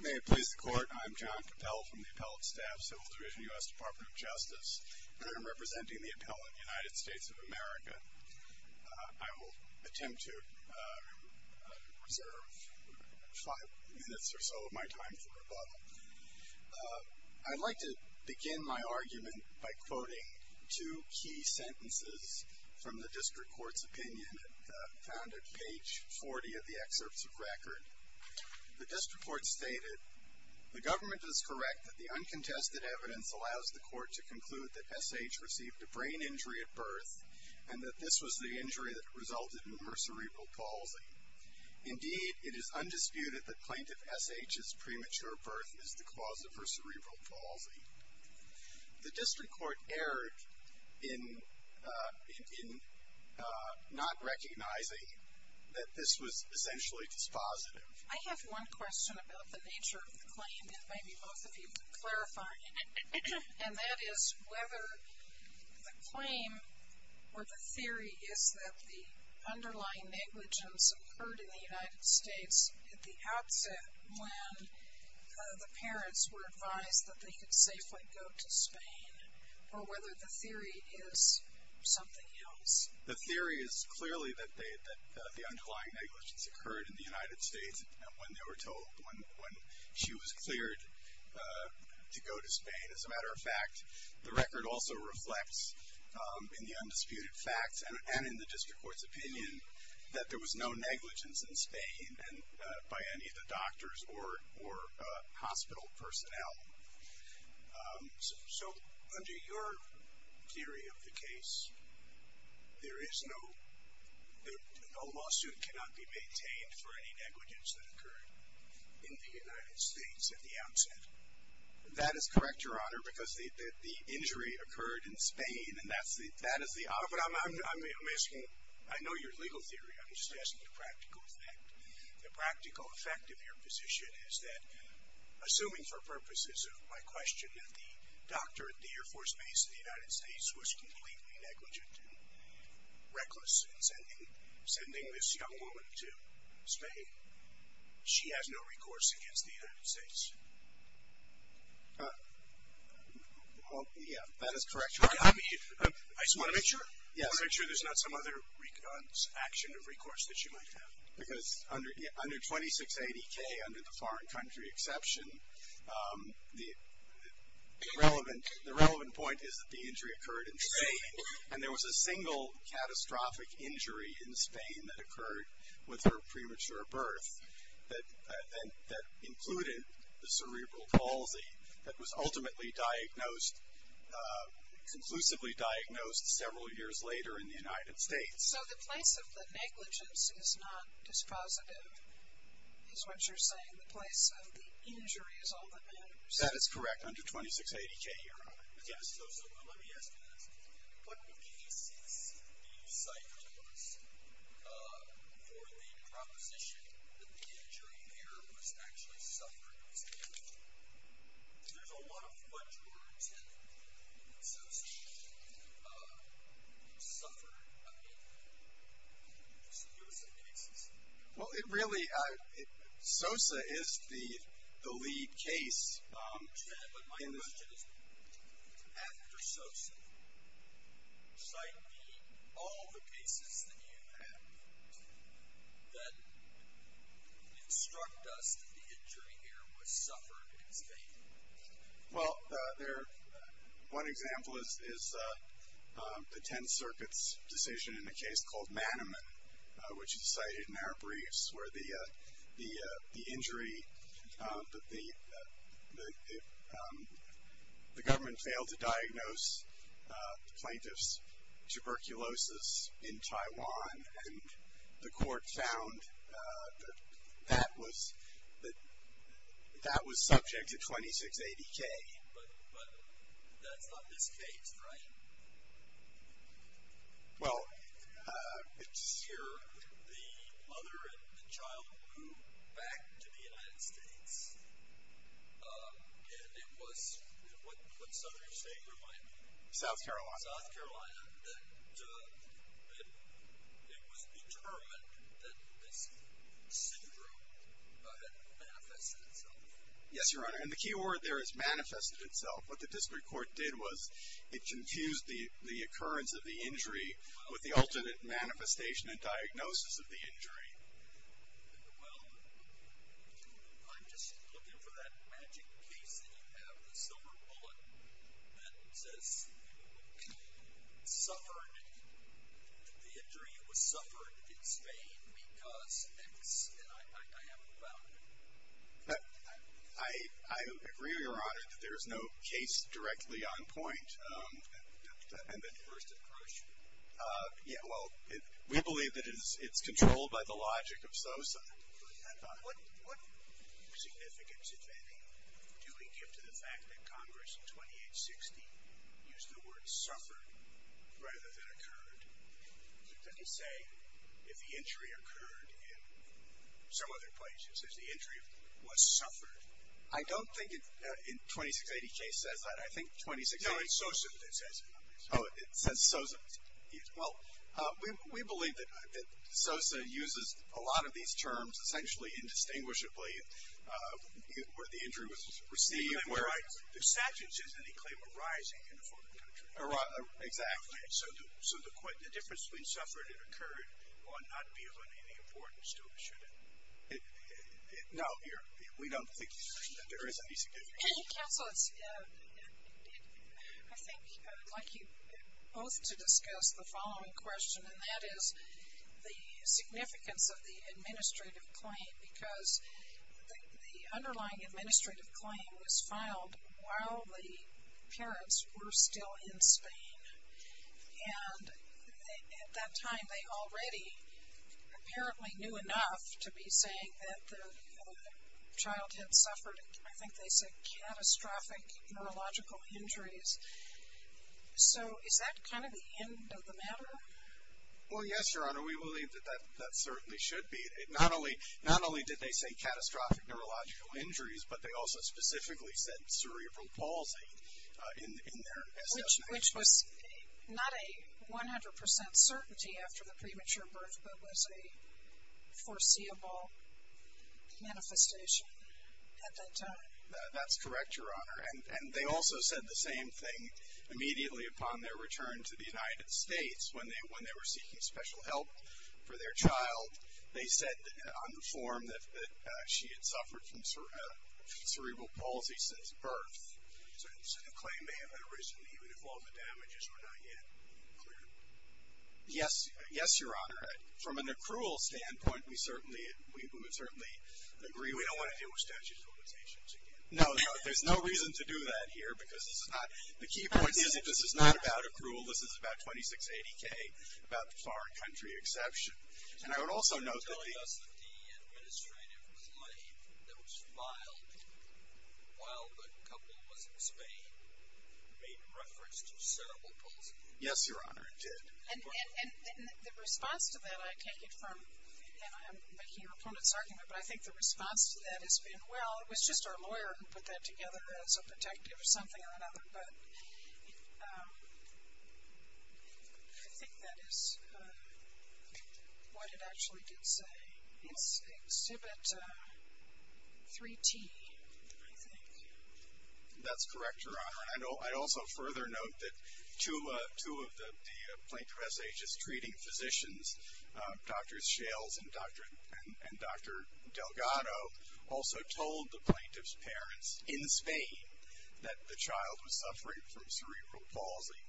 May it please the Court, I'm John Cappell from the Appellate Staff, Civil Division, U.S. Department of Justice, and I'm representing the Appellant, United States of America. I will attempt to reserve five minutes or so of my time for rebuttal. I'd like to begin my argument by quoting two key sentences from the District Court's opinion that found at page 40 of the excerpts of record. The District Court stated, The Government is correct that the uncontested evidence allows the Court to conclude that S. H. received a brain injury at birth and that this was the injury that resulted in her cerebral palsy. Indeed, it is undisputed that Plaintiff S. H.'s premature birth is the cause of her cerebral palsy. The District Court erred in not recognizing that this was essentially dispositive. I have one question about the nature of the claim that maybe both of you could clarify. And that is whether the claim or the theory is that the underlying negligence occurred in the United States at the outset when the parents were advised that they could safely go to Spain, or whether the theory is something else. The theory is clearly that the underlying negligence occurred in the United States when she was cleared to go to Spain. As a matter of fact, the record also reflects in the undisputed facts and in the District Court's opinion that there was no negligence in Spain by any of the doctors or hospital personnel. So under your theory of the case, there is no lawsuit cannot be maintained for any negligence that occurred in the United States at the outset. That is correct, Your Honor, because the injury occurred in Spain. But I'm asking, I know your legal theory. I'm just asking the practical effect. The practical effect of your position is that, assuming for purposes of my question, that the doctor at the Air Force Base in the United States was completely negligent and reckless in sending this young woman to Spain, she has no recourse against the United States. Well, yeah, that is correct, Your Honor. I just want to make sure there's not some other action of recourse that she might have. Because under 2680K, under the foreign country exception, the relevant point is that the injury occurred in Spain, and there was a single catastrophic injury in Spain that occurred with her premature birth that included the cerebral palsy that was ultimately diagnosed, conclusively diagnosed several years later in the United States. So the place of the negligence is not dispositive, is what you're saying. The place of the injury is all that matters. That is correct, under 2680K, Your Honor. Let me ask you this. What cases do you cite for the proposition that the injury here was actually suffered by Spain? There's a lot of what you're attempting in Sosa. You suffered, I mean, just the Sosa cases. Well, it really ‑‑ Sosa is the lead case. But my question is, after Sosa, cite all the cases that you have that instruct us that the injury here was suffered in Spain. Well, one example is the Tenth Circuit's decision in a case called Manneman, which is cited in our briefs, where the injury, the government failed to diagnose the plaintiff's tuberculosis in Taiwan, and the court found that that was subject to 2680K. But that's not this case, right? Well, it's ‑‑ Here, the mother and the child flew back to the United States, and it was, what southern state are you referring to? South Carolina. South Carolina. And it was determined that this syndrome had manifested itself. Yes, Your Honor. And the key word there is manifested itself. What the district court did was it confused the occurrence of the injury with the alternate manifestation and diagnosis of the injury. Well, I'm just looking for that magic case that you have, the silver bullet that says you suffered the injury, it was suffered in Spain because X, and I haven't found it. I agree, Your Honor, that there is no case directly on point. And that first approach. Yeah, well, we believe that it's controlled by the logic of suicide. What significance, if any, do we give to the fact that Congress in 2860 used the word suffered rather than occurred? Does it say if the injury occurred in some other places, if the injury was suffered? I don't think in the 2680 case it says that. I think 2680 ‑‑ No, it's Sosa that says it. Oh, it says Sosa. Well, we believe that Sosa uses a lot of these terms essentially indistinguishably where the injury was received. The statute says that he claimed arising in a foreign country. Exactly. So the difference between suffered and occurred ought not be of any importance to us, should it? No, we don't think there is any significance. Counselors, I think I'd like you both to discuss the following question, and that is the significance of the administrative claim because the underlying administrative claim was filed while the parents were still in Spain, and at that time they already apparently knew enough to be saying that the child had suffered, I think they said, catastrophic neurological injuries. So is that kind of the end of the matter? Well, yes, Your Honor, we believe that that certainly should be. Not only did they say catastrophic neurological injuries, but they also specifically said cerebral palsy in their assessment. Which was not a 100% certainty after the premature birth, but was a foreseeable manifestation at that time. That's correct, Your Honor. And they also said the same thing immediately upon their return to the United States when they were seeking special help for their child. They said on the form that she had suffered from cerebral palsy since birth. So the claim may have been originally even if all the damages were not yet cleared. Yes, Your Honor. From an accrual standpoint, we would certainly agree we don't want to deal with statute of limitations again. No, there's no reason to do that here because this is not, the key point is that this is not about accrual, this is about 2680K, about the foreign country exception. And I would also note that the You're telling us that the administrative claim that was filed while the couple was in Spain made reference to cerebral palsy. Yes, Your Honor, it did. And the response to that, I take it from, and I'm making a repugnant argument, but I think the response to that has been, well, it was just our lawyer who put that together as a protective or something or another. But I think that is what it actually did say. Exhibit 3T, I think. That's correct, Your Honor. And I'd also further note that two of the plaintiff's agents treating physicians, Dr. Shales and Dr. Delgado, also told the plaintiff's parents in Spain that the child was suffering from cerebral palsy.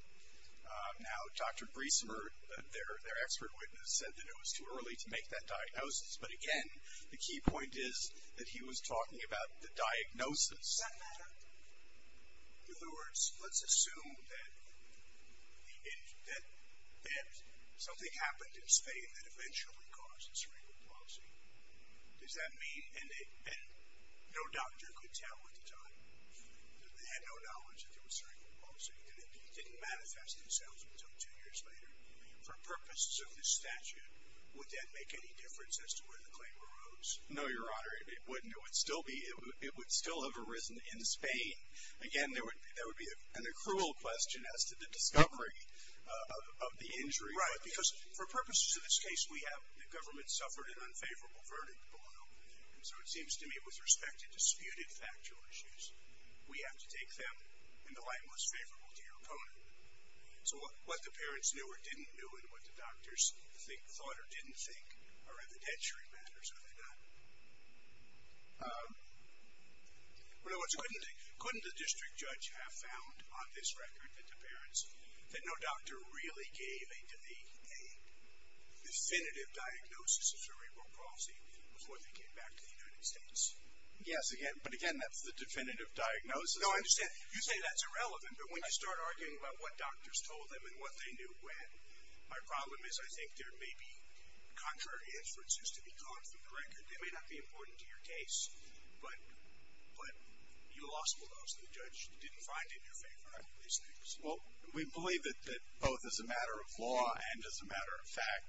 Now, Dr. Briesemer, their expert witness, said that it was too early to make that diagnosis. But, again, the key point is that he was talking about the diagnosis. Does that matter? In other words, let's assume that something happened in Spain that eventually caused cerebral palsy. Does that mean? And no doctor could tell at the time. They had no knowledge that there was cerebral palsy. And it didn't manifest itself until two years later. For purposes of this statute, would that make any difference as to where the claim arose? No, Your Honor. It wouldn't. It would still have arisen in Spain. Again, there would be an accrual question as to the discovery of the injury. Right, because for purposes of this case, we have the government suffered an unfavorable verdict below. And so it seems to me with respect to disputed factual issues, we have to take them in the light most favorable to your opponent. So what the parents knew or didn't know and what the doctors thought or didn't think are evidentiary matters, are they not? In other words, couldn't the district judge have found on this record that no doctor really gave a definitive diagnosis of cerebral palsy before they came back to the United States? Yes, but again, that's the definitive diagnosis. No, I understand. You say that's irrelevant, but when you start arguing about what doctors told them and what they knew when, my problem is I think there may be contrary inferences to be caught from the record. They may not be important to your case, but you lost the law, so the judge didn't find it in your favor. Well, we believe that both as a matter of law and as a matter of fact,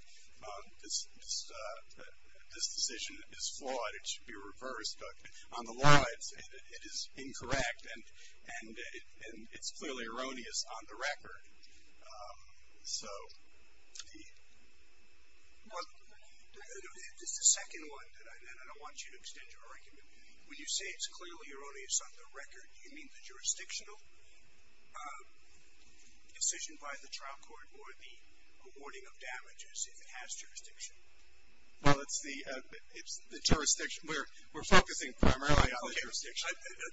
this decision is flawed. It should be reversed, but on the law, it is incorrect, and it's clearly erroneous on the record. So the second one, and I want you to extend your argument, when you say it's clearly erroneous on the record, do you mean the jurisdictional decision by the trial court or the awarding of damages if it has jurisdiction? Well, it's the jurisdiction. We're focusing primarily on the jurisdiction.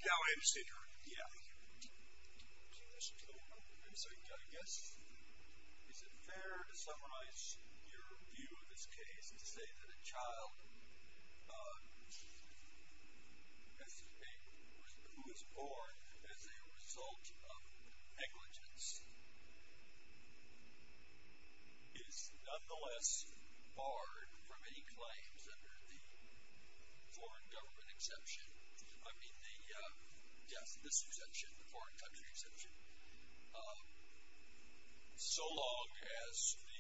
Now I understand your argument. Yeah. I'm sorry, I guess is it fair to summarize your view of this case and say that a child who is born as a result of negligence is nonetheless barred from any claims under the foreign government exception? I mean, yes, this exemption, the foreign country exemption, so long as the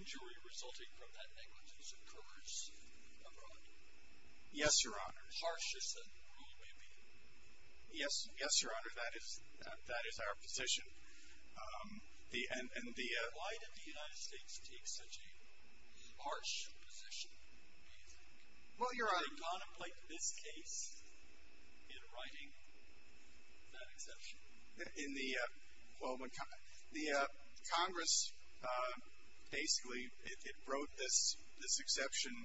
injury resulting from that negligence occurs abroad. Yes, Your Honor. As harsh as that rule may be. Yes, Your Honor, that is our position. And why did the United States take such a harsh position, do you think? Well, Your Honor. To contemplate this case in writing that exception? In the, well, the Congress basically, it wrote this exception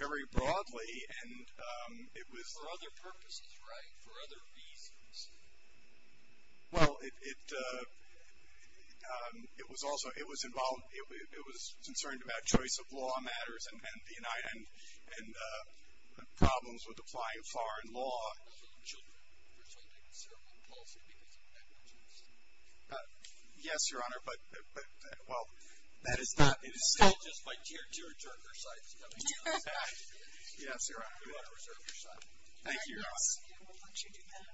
very broadly and it was. For other purposes, right, for other reasons. Well, it was also, it was involved, it was concerned about choice of law matters and problems with applying foreign law. For children. For something so impulsive because of negligence. Yes, Your Honor, but, well, that is not. It is still just by tear, tear, tear of their sides. Yes, Your Honor. We want to reserve your side. Thank you, Your Honor. We'll let you do that.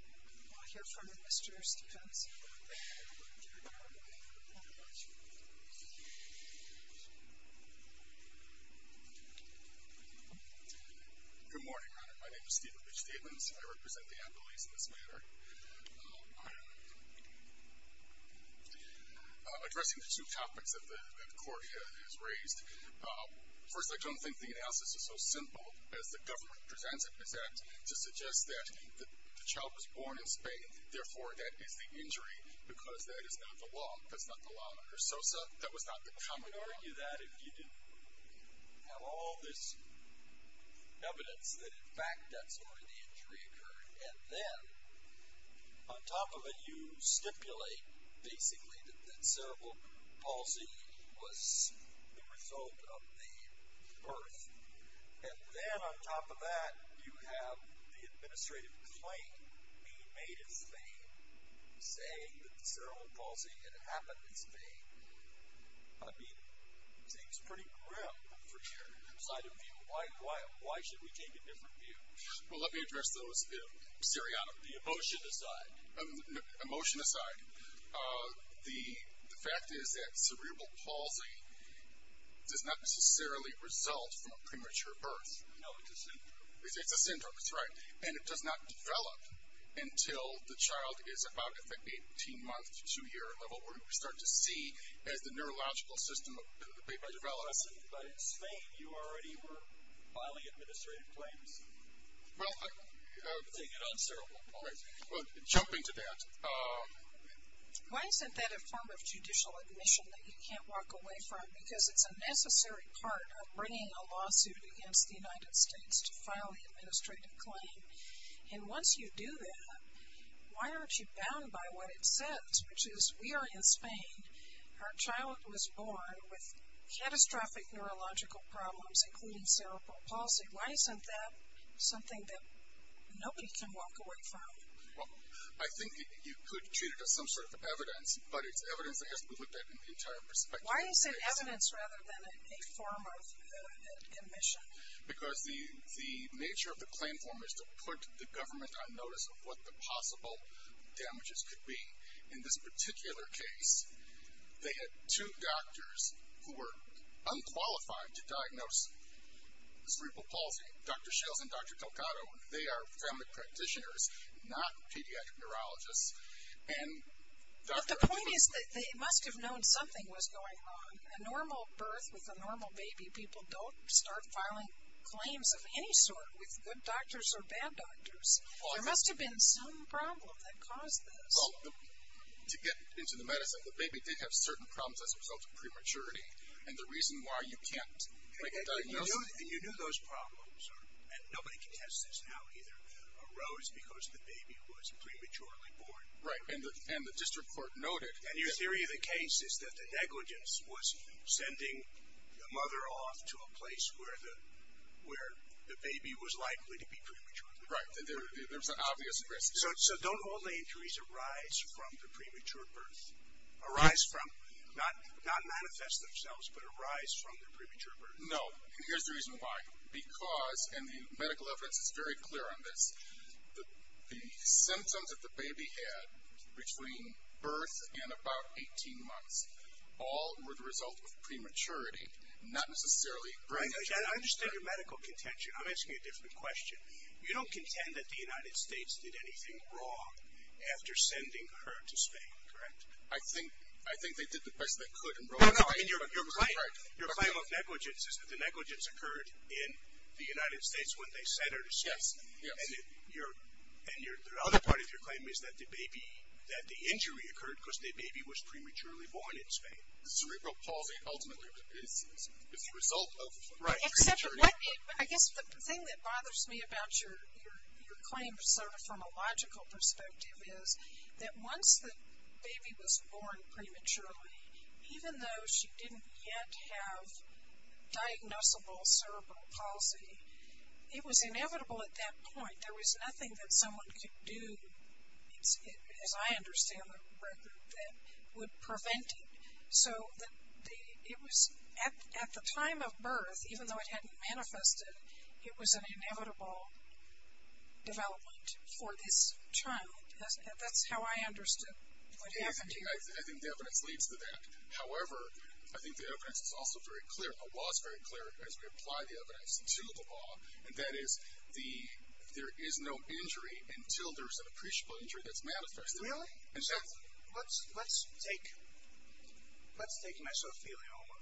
We'll hear from the Mr. Stevenson. Thank you, Your Honor. Thank you very much. Good morning, Your Honor. My name is Steven Rich Stevens. I represent the appellees in this matter. Addressing the two topics that the court has raised. First, I don't think the analysis is so simple as the government presents it. Is that to suggest that the child was born in Spain, therefore that is the injury, because that is not the law. That's not the law under SOSA. That was not the common law. We would argue that if you didn't have all this evidence that, in fact, that's where the injury occurred. And then, on top of it, you stipulate, basically, that cerebral palsy was the result of the birth. And then, on top of that, you have the administrative claim being made in Spain, saying that cerebral palsy had happened in Spain. I mean, it seems pretty grim from your side of view. Why should we take a different view? Well, let me address those in seriatim. The emotion aside. Emotion aside, the fact is that cerebral palsy does not necessarily result from a premature birth. No, it's a syndrome. It's a syndrome. That's right. And it does not develop until the child is about, I think, 18 months to two-year level, where we start to see as the neurological system develops. But in Spain, you already were filing administrative claims. Well, jumping to that. Why isn't that a form of judicial admission that you can't walk away from? Because it's a necessary part of bringing a lawsuit against the United States to file the administrative claim. And once you do that, why aren't you bound by what it says, which is we are in Spain. Our child was born with catastrophic neurological problems, including cerebral palsy. Why isn't that something that nobody can walk away from? Well, I think you could treat it as some sort of evidence, but it's evidence that has to be looked at in the entire perspective. Why is it evidence rather than a form of admission? Because the nature of the claim form is to put the government on notice of what the possible damages could be. In this particular case, they had two doctors who were unqualified to diagnose cerebral palsy, Dr. Shales and Dr. Delgado. They are family practitioners, not pediatric neurologists. But the point is that they must have known something was going on. A normal birth with a normal baby, people don't start filing claims of any sort with good doctors or bad doctors. There must have been some problem that caused this. Well, to get into the medicine, the baby did have certain problems as a result of prematurity, and the reason why you can't make a diagnosis. And you knew those problems, and nobody can test this now, because the baby was prematurely born. Right. And the district court noted. And your theory of the case is that the negligence was sending the mother off to a place where the baby was likely to be premature. Right. There was an obvious risk. So don't all injuries arise from the premature birth? Arise from, not manifest themselves, but arise from the premature birth? No. And here's the reason why. Because, and the medical evidence is very clear on this, the symptoms that the baby had between birth and about 18 months, all were the result of prematurity, not necessarily premature birth. I understand your medical contention. I'm asking you a different question. You don't contend that the United States did anything wrong after sending her to Spain, correct? I think they did the best they could. Your claim of negligence is that the negligence occurred in the United States when they sent her to Spain. Yes. And the other part of your claim is that the baby, that the injury occurred because the baby was prematurely born in Spain. Cerebral palsy ultimately is the result of prematurity. Right. I guess the thing that bothers me about your claim sort of from a logical perspective is that once the baby was born prematurely, even though she didn't yet have diagnosable cerebral palsy, it was inevitable at that point. There was nothing that someone could do, as I understand the record, that would prevent it. So it was at the time of birth, even though it hadn't manifested, it was an inevitable development for this child. That's how I understood what happened here. I think the evidence leads to that. However, I think the evidence is also very clear, the law is very clear as we apply the evidence to the law, and that is there is no injury until there is an appreciable injury that's manifested. Really? Let's take mesothelioma.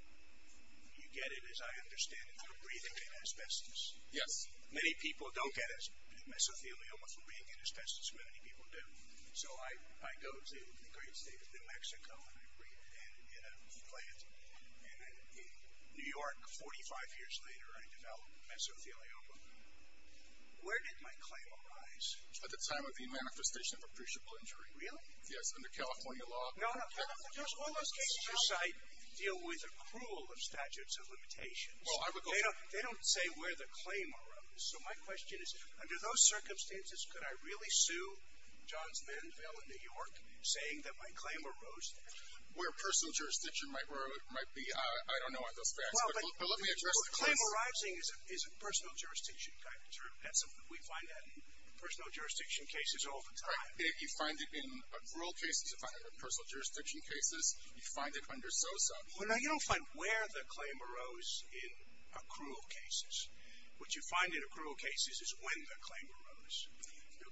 You get it, as I understand it, through breathing in asbestos. Yes. Many people don't get mesothelioma from breathing in asbestos, but many people do. So I go to the great state of New Mexico and I breathe it in in a plant, and in New York, 45 years later, I develop mesothelioma. Where did my claim arise? At the time of the manifestation of appreciable injury. Really? Yes, under California law. No, no. All those cases you cite deal with accrual of statutes of limitations. They don't say where the claim arose. So my question is, under those circumstances, could I really sue John's Menville in New York saying that my claim arose there? Where personal jurisdiction might be, I don't know on those facts. But let me address the question. Well, claim arising is a personal jurisdiction kind of term. We find that in personal jurisdiction cases all the time. You find it in accrual cases. You find it in personal jurisdiction cases. You find it under SOSA. Well, no, you don't find where the claim arose in accrual cases. What you find in accrual cases is when the claim arose.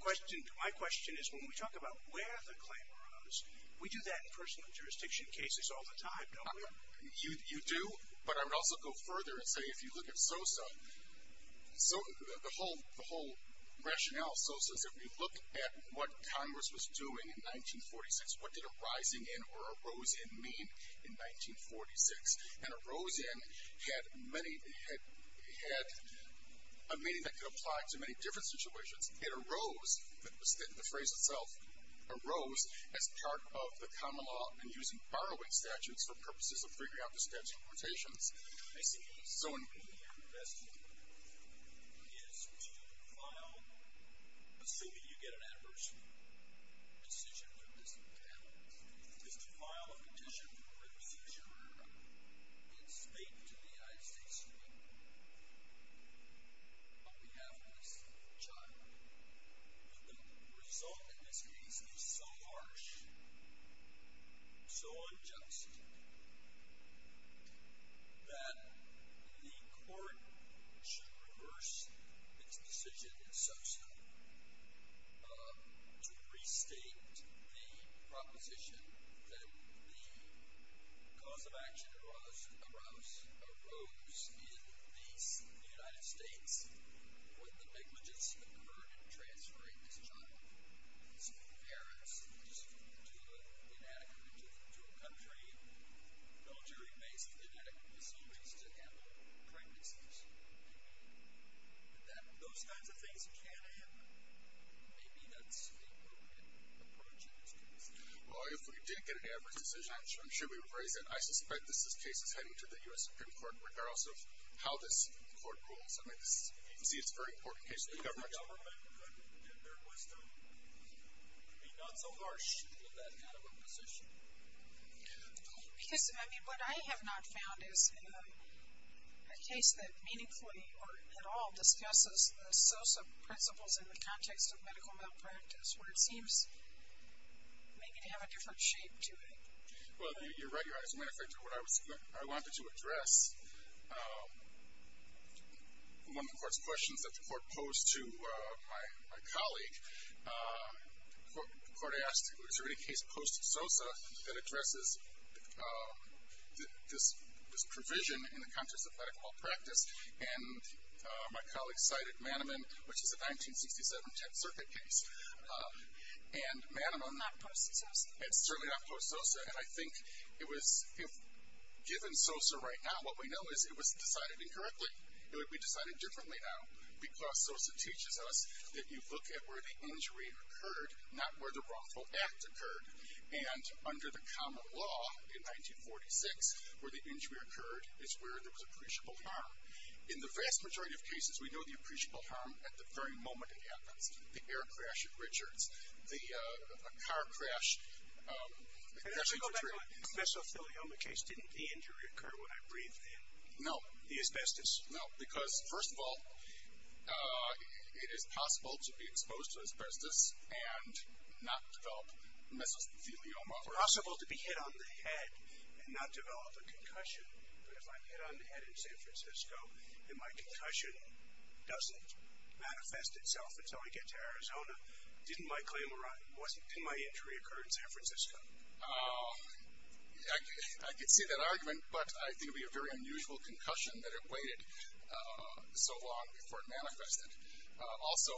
My question is, when we talk about where the claim arose, we do that in personal jurisdiction cases all the time, don't we? You do, but I would also go further and say if you look at SOSA, the whole rationale of SOSA is if we look at what Congress was doing in 1946, what did arising in or arose in mean in 1946? And arose in had a meaning that could apply to many different situations. It arose, the phrase itself, arose as part of the common law in using borrowing statutes for purposes of figuring out the statute of limitations. I see. So, in your investment is to file, assuming you get an adversary decision for this account, is to file a petition for a procedure in state to the United States Supreme Court on behalf of this child. But the result in this case is so harsh, so unjust, that the court should reverse its decision in SOSA to restate the proposition that the cause of action arose in the United States when the negligence occurred in transferring this child's parents to a military-based genetic facility to handle pregnancies. Those kinds of things can happen. Maybe that's the appropriate approach in this case. Well, if we did get an adverse decision, I'm sure we would raise it. I suspect this case is heading to the U.S. Supreme Court regardless of how this court rules. I mean, you can see it's a very important case for the government. If the government could, in their wisdom, be not so harsh in that kind of a position. Because, I mean, what I have not found is a case that meaningfully, or at all, discusses the SOSA principles in the context of medical malpractice, where it seems maybe to have a different shape to it. Well, you're right. As a matter of fact, I wanted to address one of the court's questions that the court posed to my colleague. The court asked, is there any case post SOSA that addresses this provision in the context of medical malpractice? And my colleague cited Manniman, which is a 1967 Tenth Circuit case. And Manniman- Not post SOSA? It's certainly not post SOSA. And I think it was- Given SOSA right now, what we know is it was decided incorrectly. It would be decided differently now. Because SOSA teaches us that you look at where the injury occurred, not where the wrongful act occurred. And under the common law, in 1946, where the injury occurred is where there was appreciable harm. In the vast majority of cases, we know the appreciable harm at the very moment it happens. The air crash at Richards. The car crash. And as we go back to my mesothelioma case, didn't the injury occur when I breathed in? No. The asbestos? No. Because, first of all, it is possible to be exposed to asbestos and not develop mesothelioma. It's possible to be hit on the head and not develop a concussion. But if I'm hit on the head in San Francisco and my concussion doesn't manifest itself until I get to Arizona, didn't my claim arise? Didn't my injury occur in San Francisco? I could see that argument, but I think it would be a very unusual concussion that it waited so long before it manifested. Also,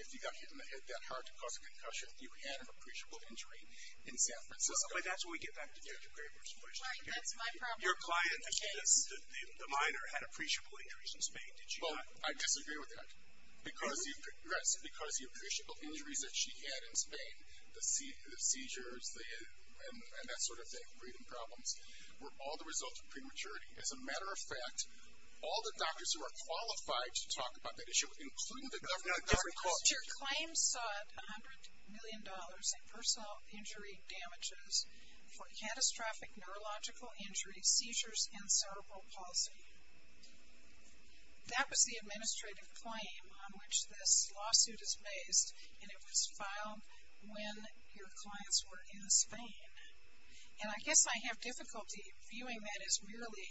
if you got hit on the head that hard to cause a concussion, you had an appreciable injury in San Francisco. But that's when we get back to Dr. Graber's question. Your client, the minor, had appreciable injuries in Spain, did she not? Well, I disagree with that. Yes, because the appreciable injuries that she had in Spain, the seizures and that sort of thing, breathing problems, were all the result of prematurity. As a matter of fact, all the doctors who are qualified to talk about that issue, including the government, didn't call. Your claim sought $100 million in personal injury damages for catastrophic neurological injuries, seizures, and cerebral palsy. That was the administrative claim on which this lawsuit is based, and it was filed when your clients were in Spain. And I guess I have difficulty viewing that as merely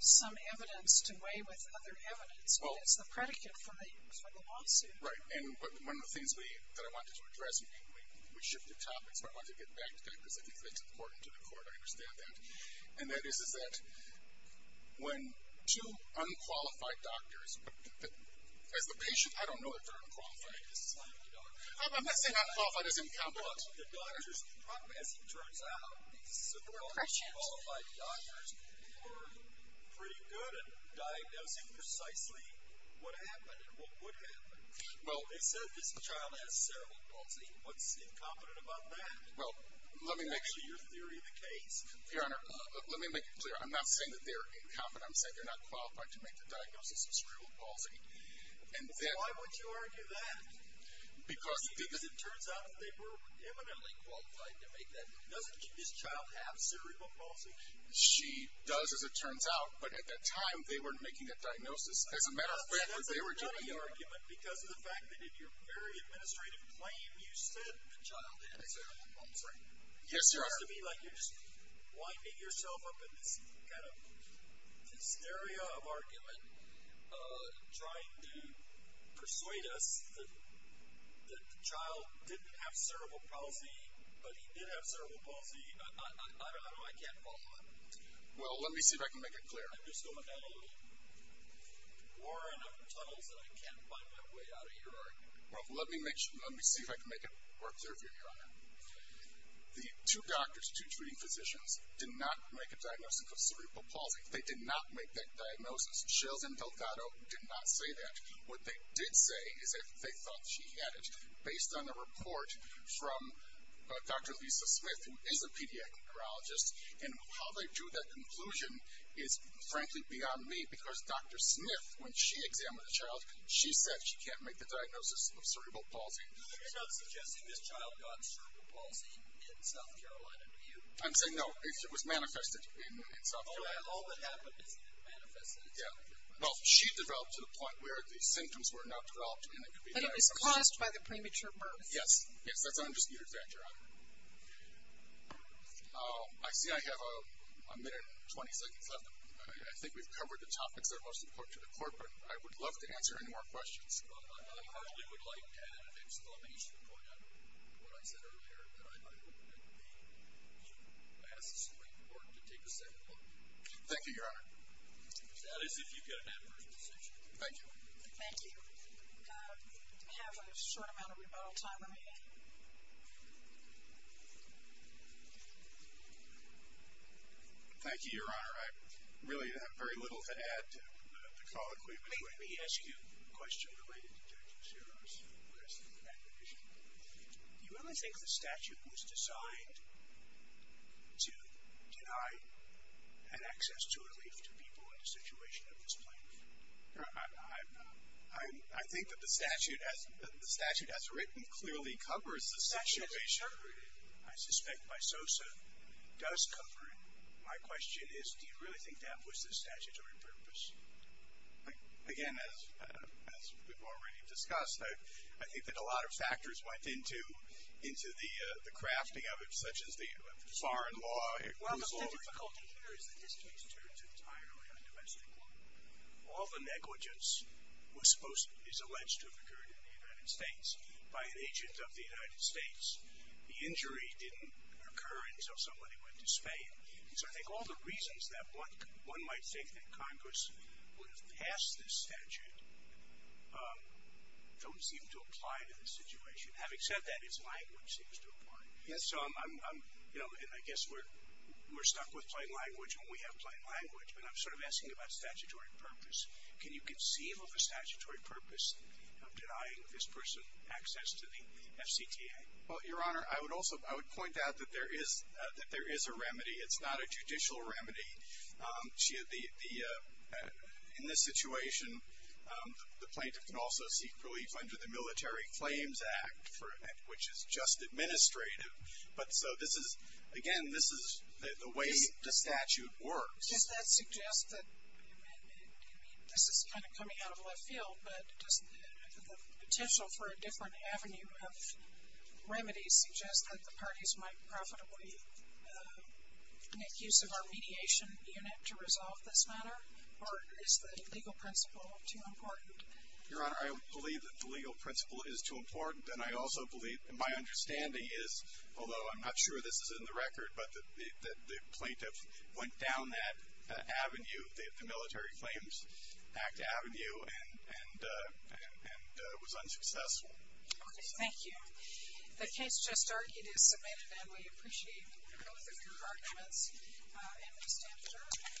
some evidence to weigh with other evidence, but it's the predicate for the lawsuit. Right, and one of the things that I wanted to address, we shifted topics, but I wanted to get back to that because I think that's important to the court, I understand that. And that is, is that when two unqualified doctors, as the patient, I don't know if they're unqualified. I'm not saying unqualified is incompetent. Well, the doctors, as it turns out, the unqualified doctors were pretty good at diagnosing precisely what happened and what would happen. They said this child has cerebral palsy. What's incompetent about that? Well, let me make sure. Is that actually your theory of the case? Your Honor, let me make it clear. I'm not saying that they're incompetent. I'm saying they're not qualified to make the diagnosis of cerebral palsy. Why would you argue that? Because it turns out they were eminently qualified to make that diagnosis. Doesn't this child have cerebral palsy? She does, as it turns out. But at that time, they weren't making that diagnosis. As a matter of fact, they were doing it. That's a nutty argument because of the fact that in your very administrative claim, you said the child has cerebral palsy. Yes, Your Honor. It seems to me like you're just winding yourself up in this kind of hysteria of argument trying to persuade us that the child didn't have cerebral palsy, but he did have cerebral palsy. I don't know. I can't follow that. Well, let me see if I can make it clear. I'm just going down a little warren of tunnels that I can't find my way out of here. The two doctors, two treating physicians, did not make a diagnosis of cerebral palsy. They did not make that diagnosis. Shales and Delgado did not say that. What they did say is that they thought she had it. Based on a report from Dr. Lisa Smith, who is a pediatric neurologist, and how they drew that conclusion is frankly beyond me because Dr. Smith, when she examined the child, she said she can't make the diagnosis of cerebral palsy. So you're not suggesting this child got cerebral palsy in South Carolina, do you? I'm saying no. It was manifested in South Carolina. All that happened is that it manifested in South Carolina. Well, she developed to the point where the symptoms were not developed. But it was caused by the premature birth. Yes. Yes, that's an undisputed fact, Your Honor. I see I have a minute and 20 seconds left. I think we've covered the topics that are most important to the court, but I would love to answer any more questions. I partly would like to add an exclamation point on what I said earlier, that I think it would be absolutely important to take a second look. Thank you, Your Honor. That is, if you could, an adverse decision. Thank you. Thank you. We have a short amount of rebuttal time remaining. Thank you, Your Honor. I really have very little to add to the call equipment. Let me ask you a question related to Judge Osiris. Do you really think the statute was designed to deny an access to relief to people in a situation of misplacement? I think that the statute as written clearly covers the situation. I suspect my SOSA does cover it. My question is, do you really think that was the statutory purpose? Again, as we've already discussed, I think that a lot of factors went into the crafting of it, such as the foreign law. Well, the difficulty here is that this case turns entirely on domestic law. All the negligence is alleged to have occurred in the United States by an agent of the United States. The injury didn't occur until somebody went to Spain. So I think all the reasons that one might think that Congress would have passed this statute don't seem to apply to the situation. Having said that, its language seems to apply. So I'm, you know, and I guess we're stuck with plain language and we have plain language, but I'm sort of asking about statutory purpose. Can you conceive of a statutory purpose of denying this person access to the FCTA? Well, Your Honor, I would also point out that there is a remedy. It's not a judicial remedy. In this situation, the plaintiff can also seek relief under the Military Claims Act, which is just administrative. But so this is, again, this is the way the statute works. Does that suggest that, I mean, this is kind of coming out of left field, but does the potential for a different avenue of remedy suggest that the parties might profitably make use of our mediation unit to resolve this matter? Or is the legal principle too important? Your Honor, I believe that the legal principle is too important, and I also believe, and my understanding is, although I'm not sure this is in the record, but the plaintiff went down that avenue, the Military Claims Act avenue, and was unsuccessful. Okay. Thank you. The case just argued is submitted, and we appreciate both of your arguments and we stand adjourned.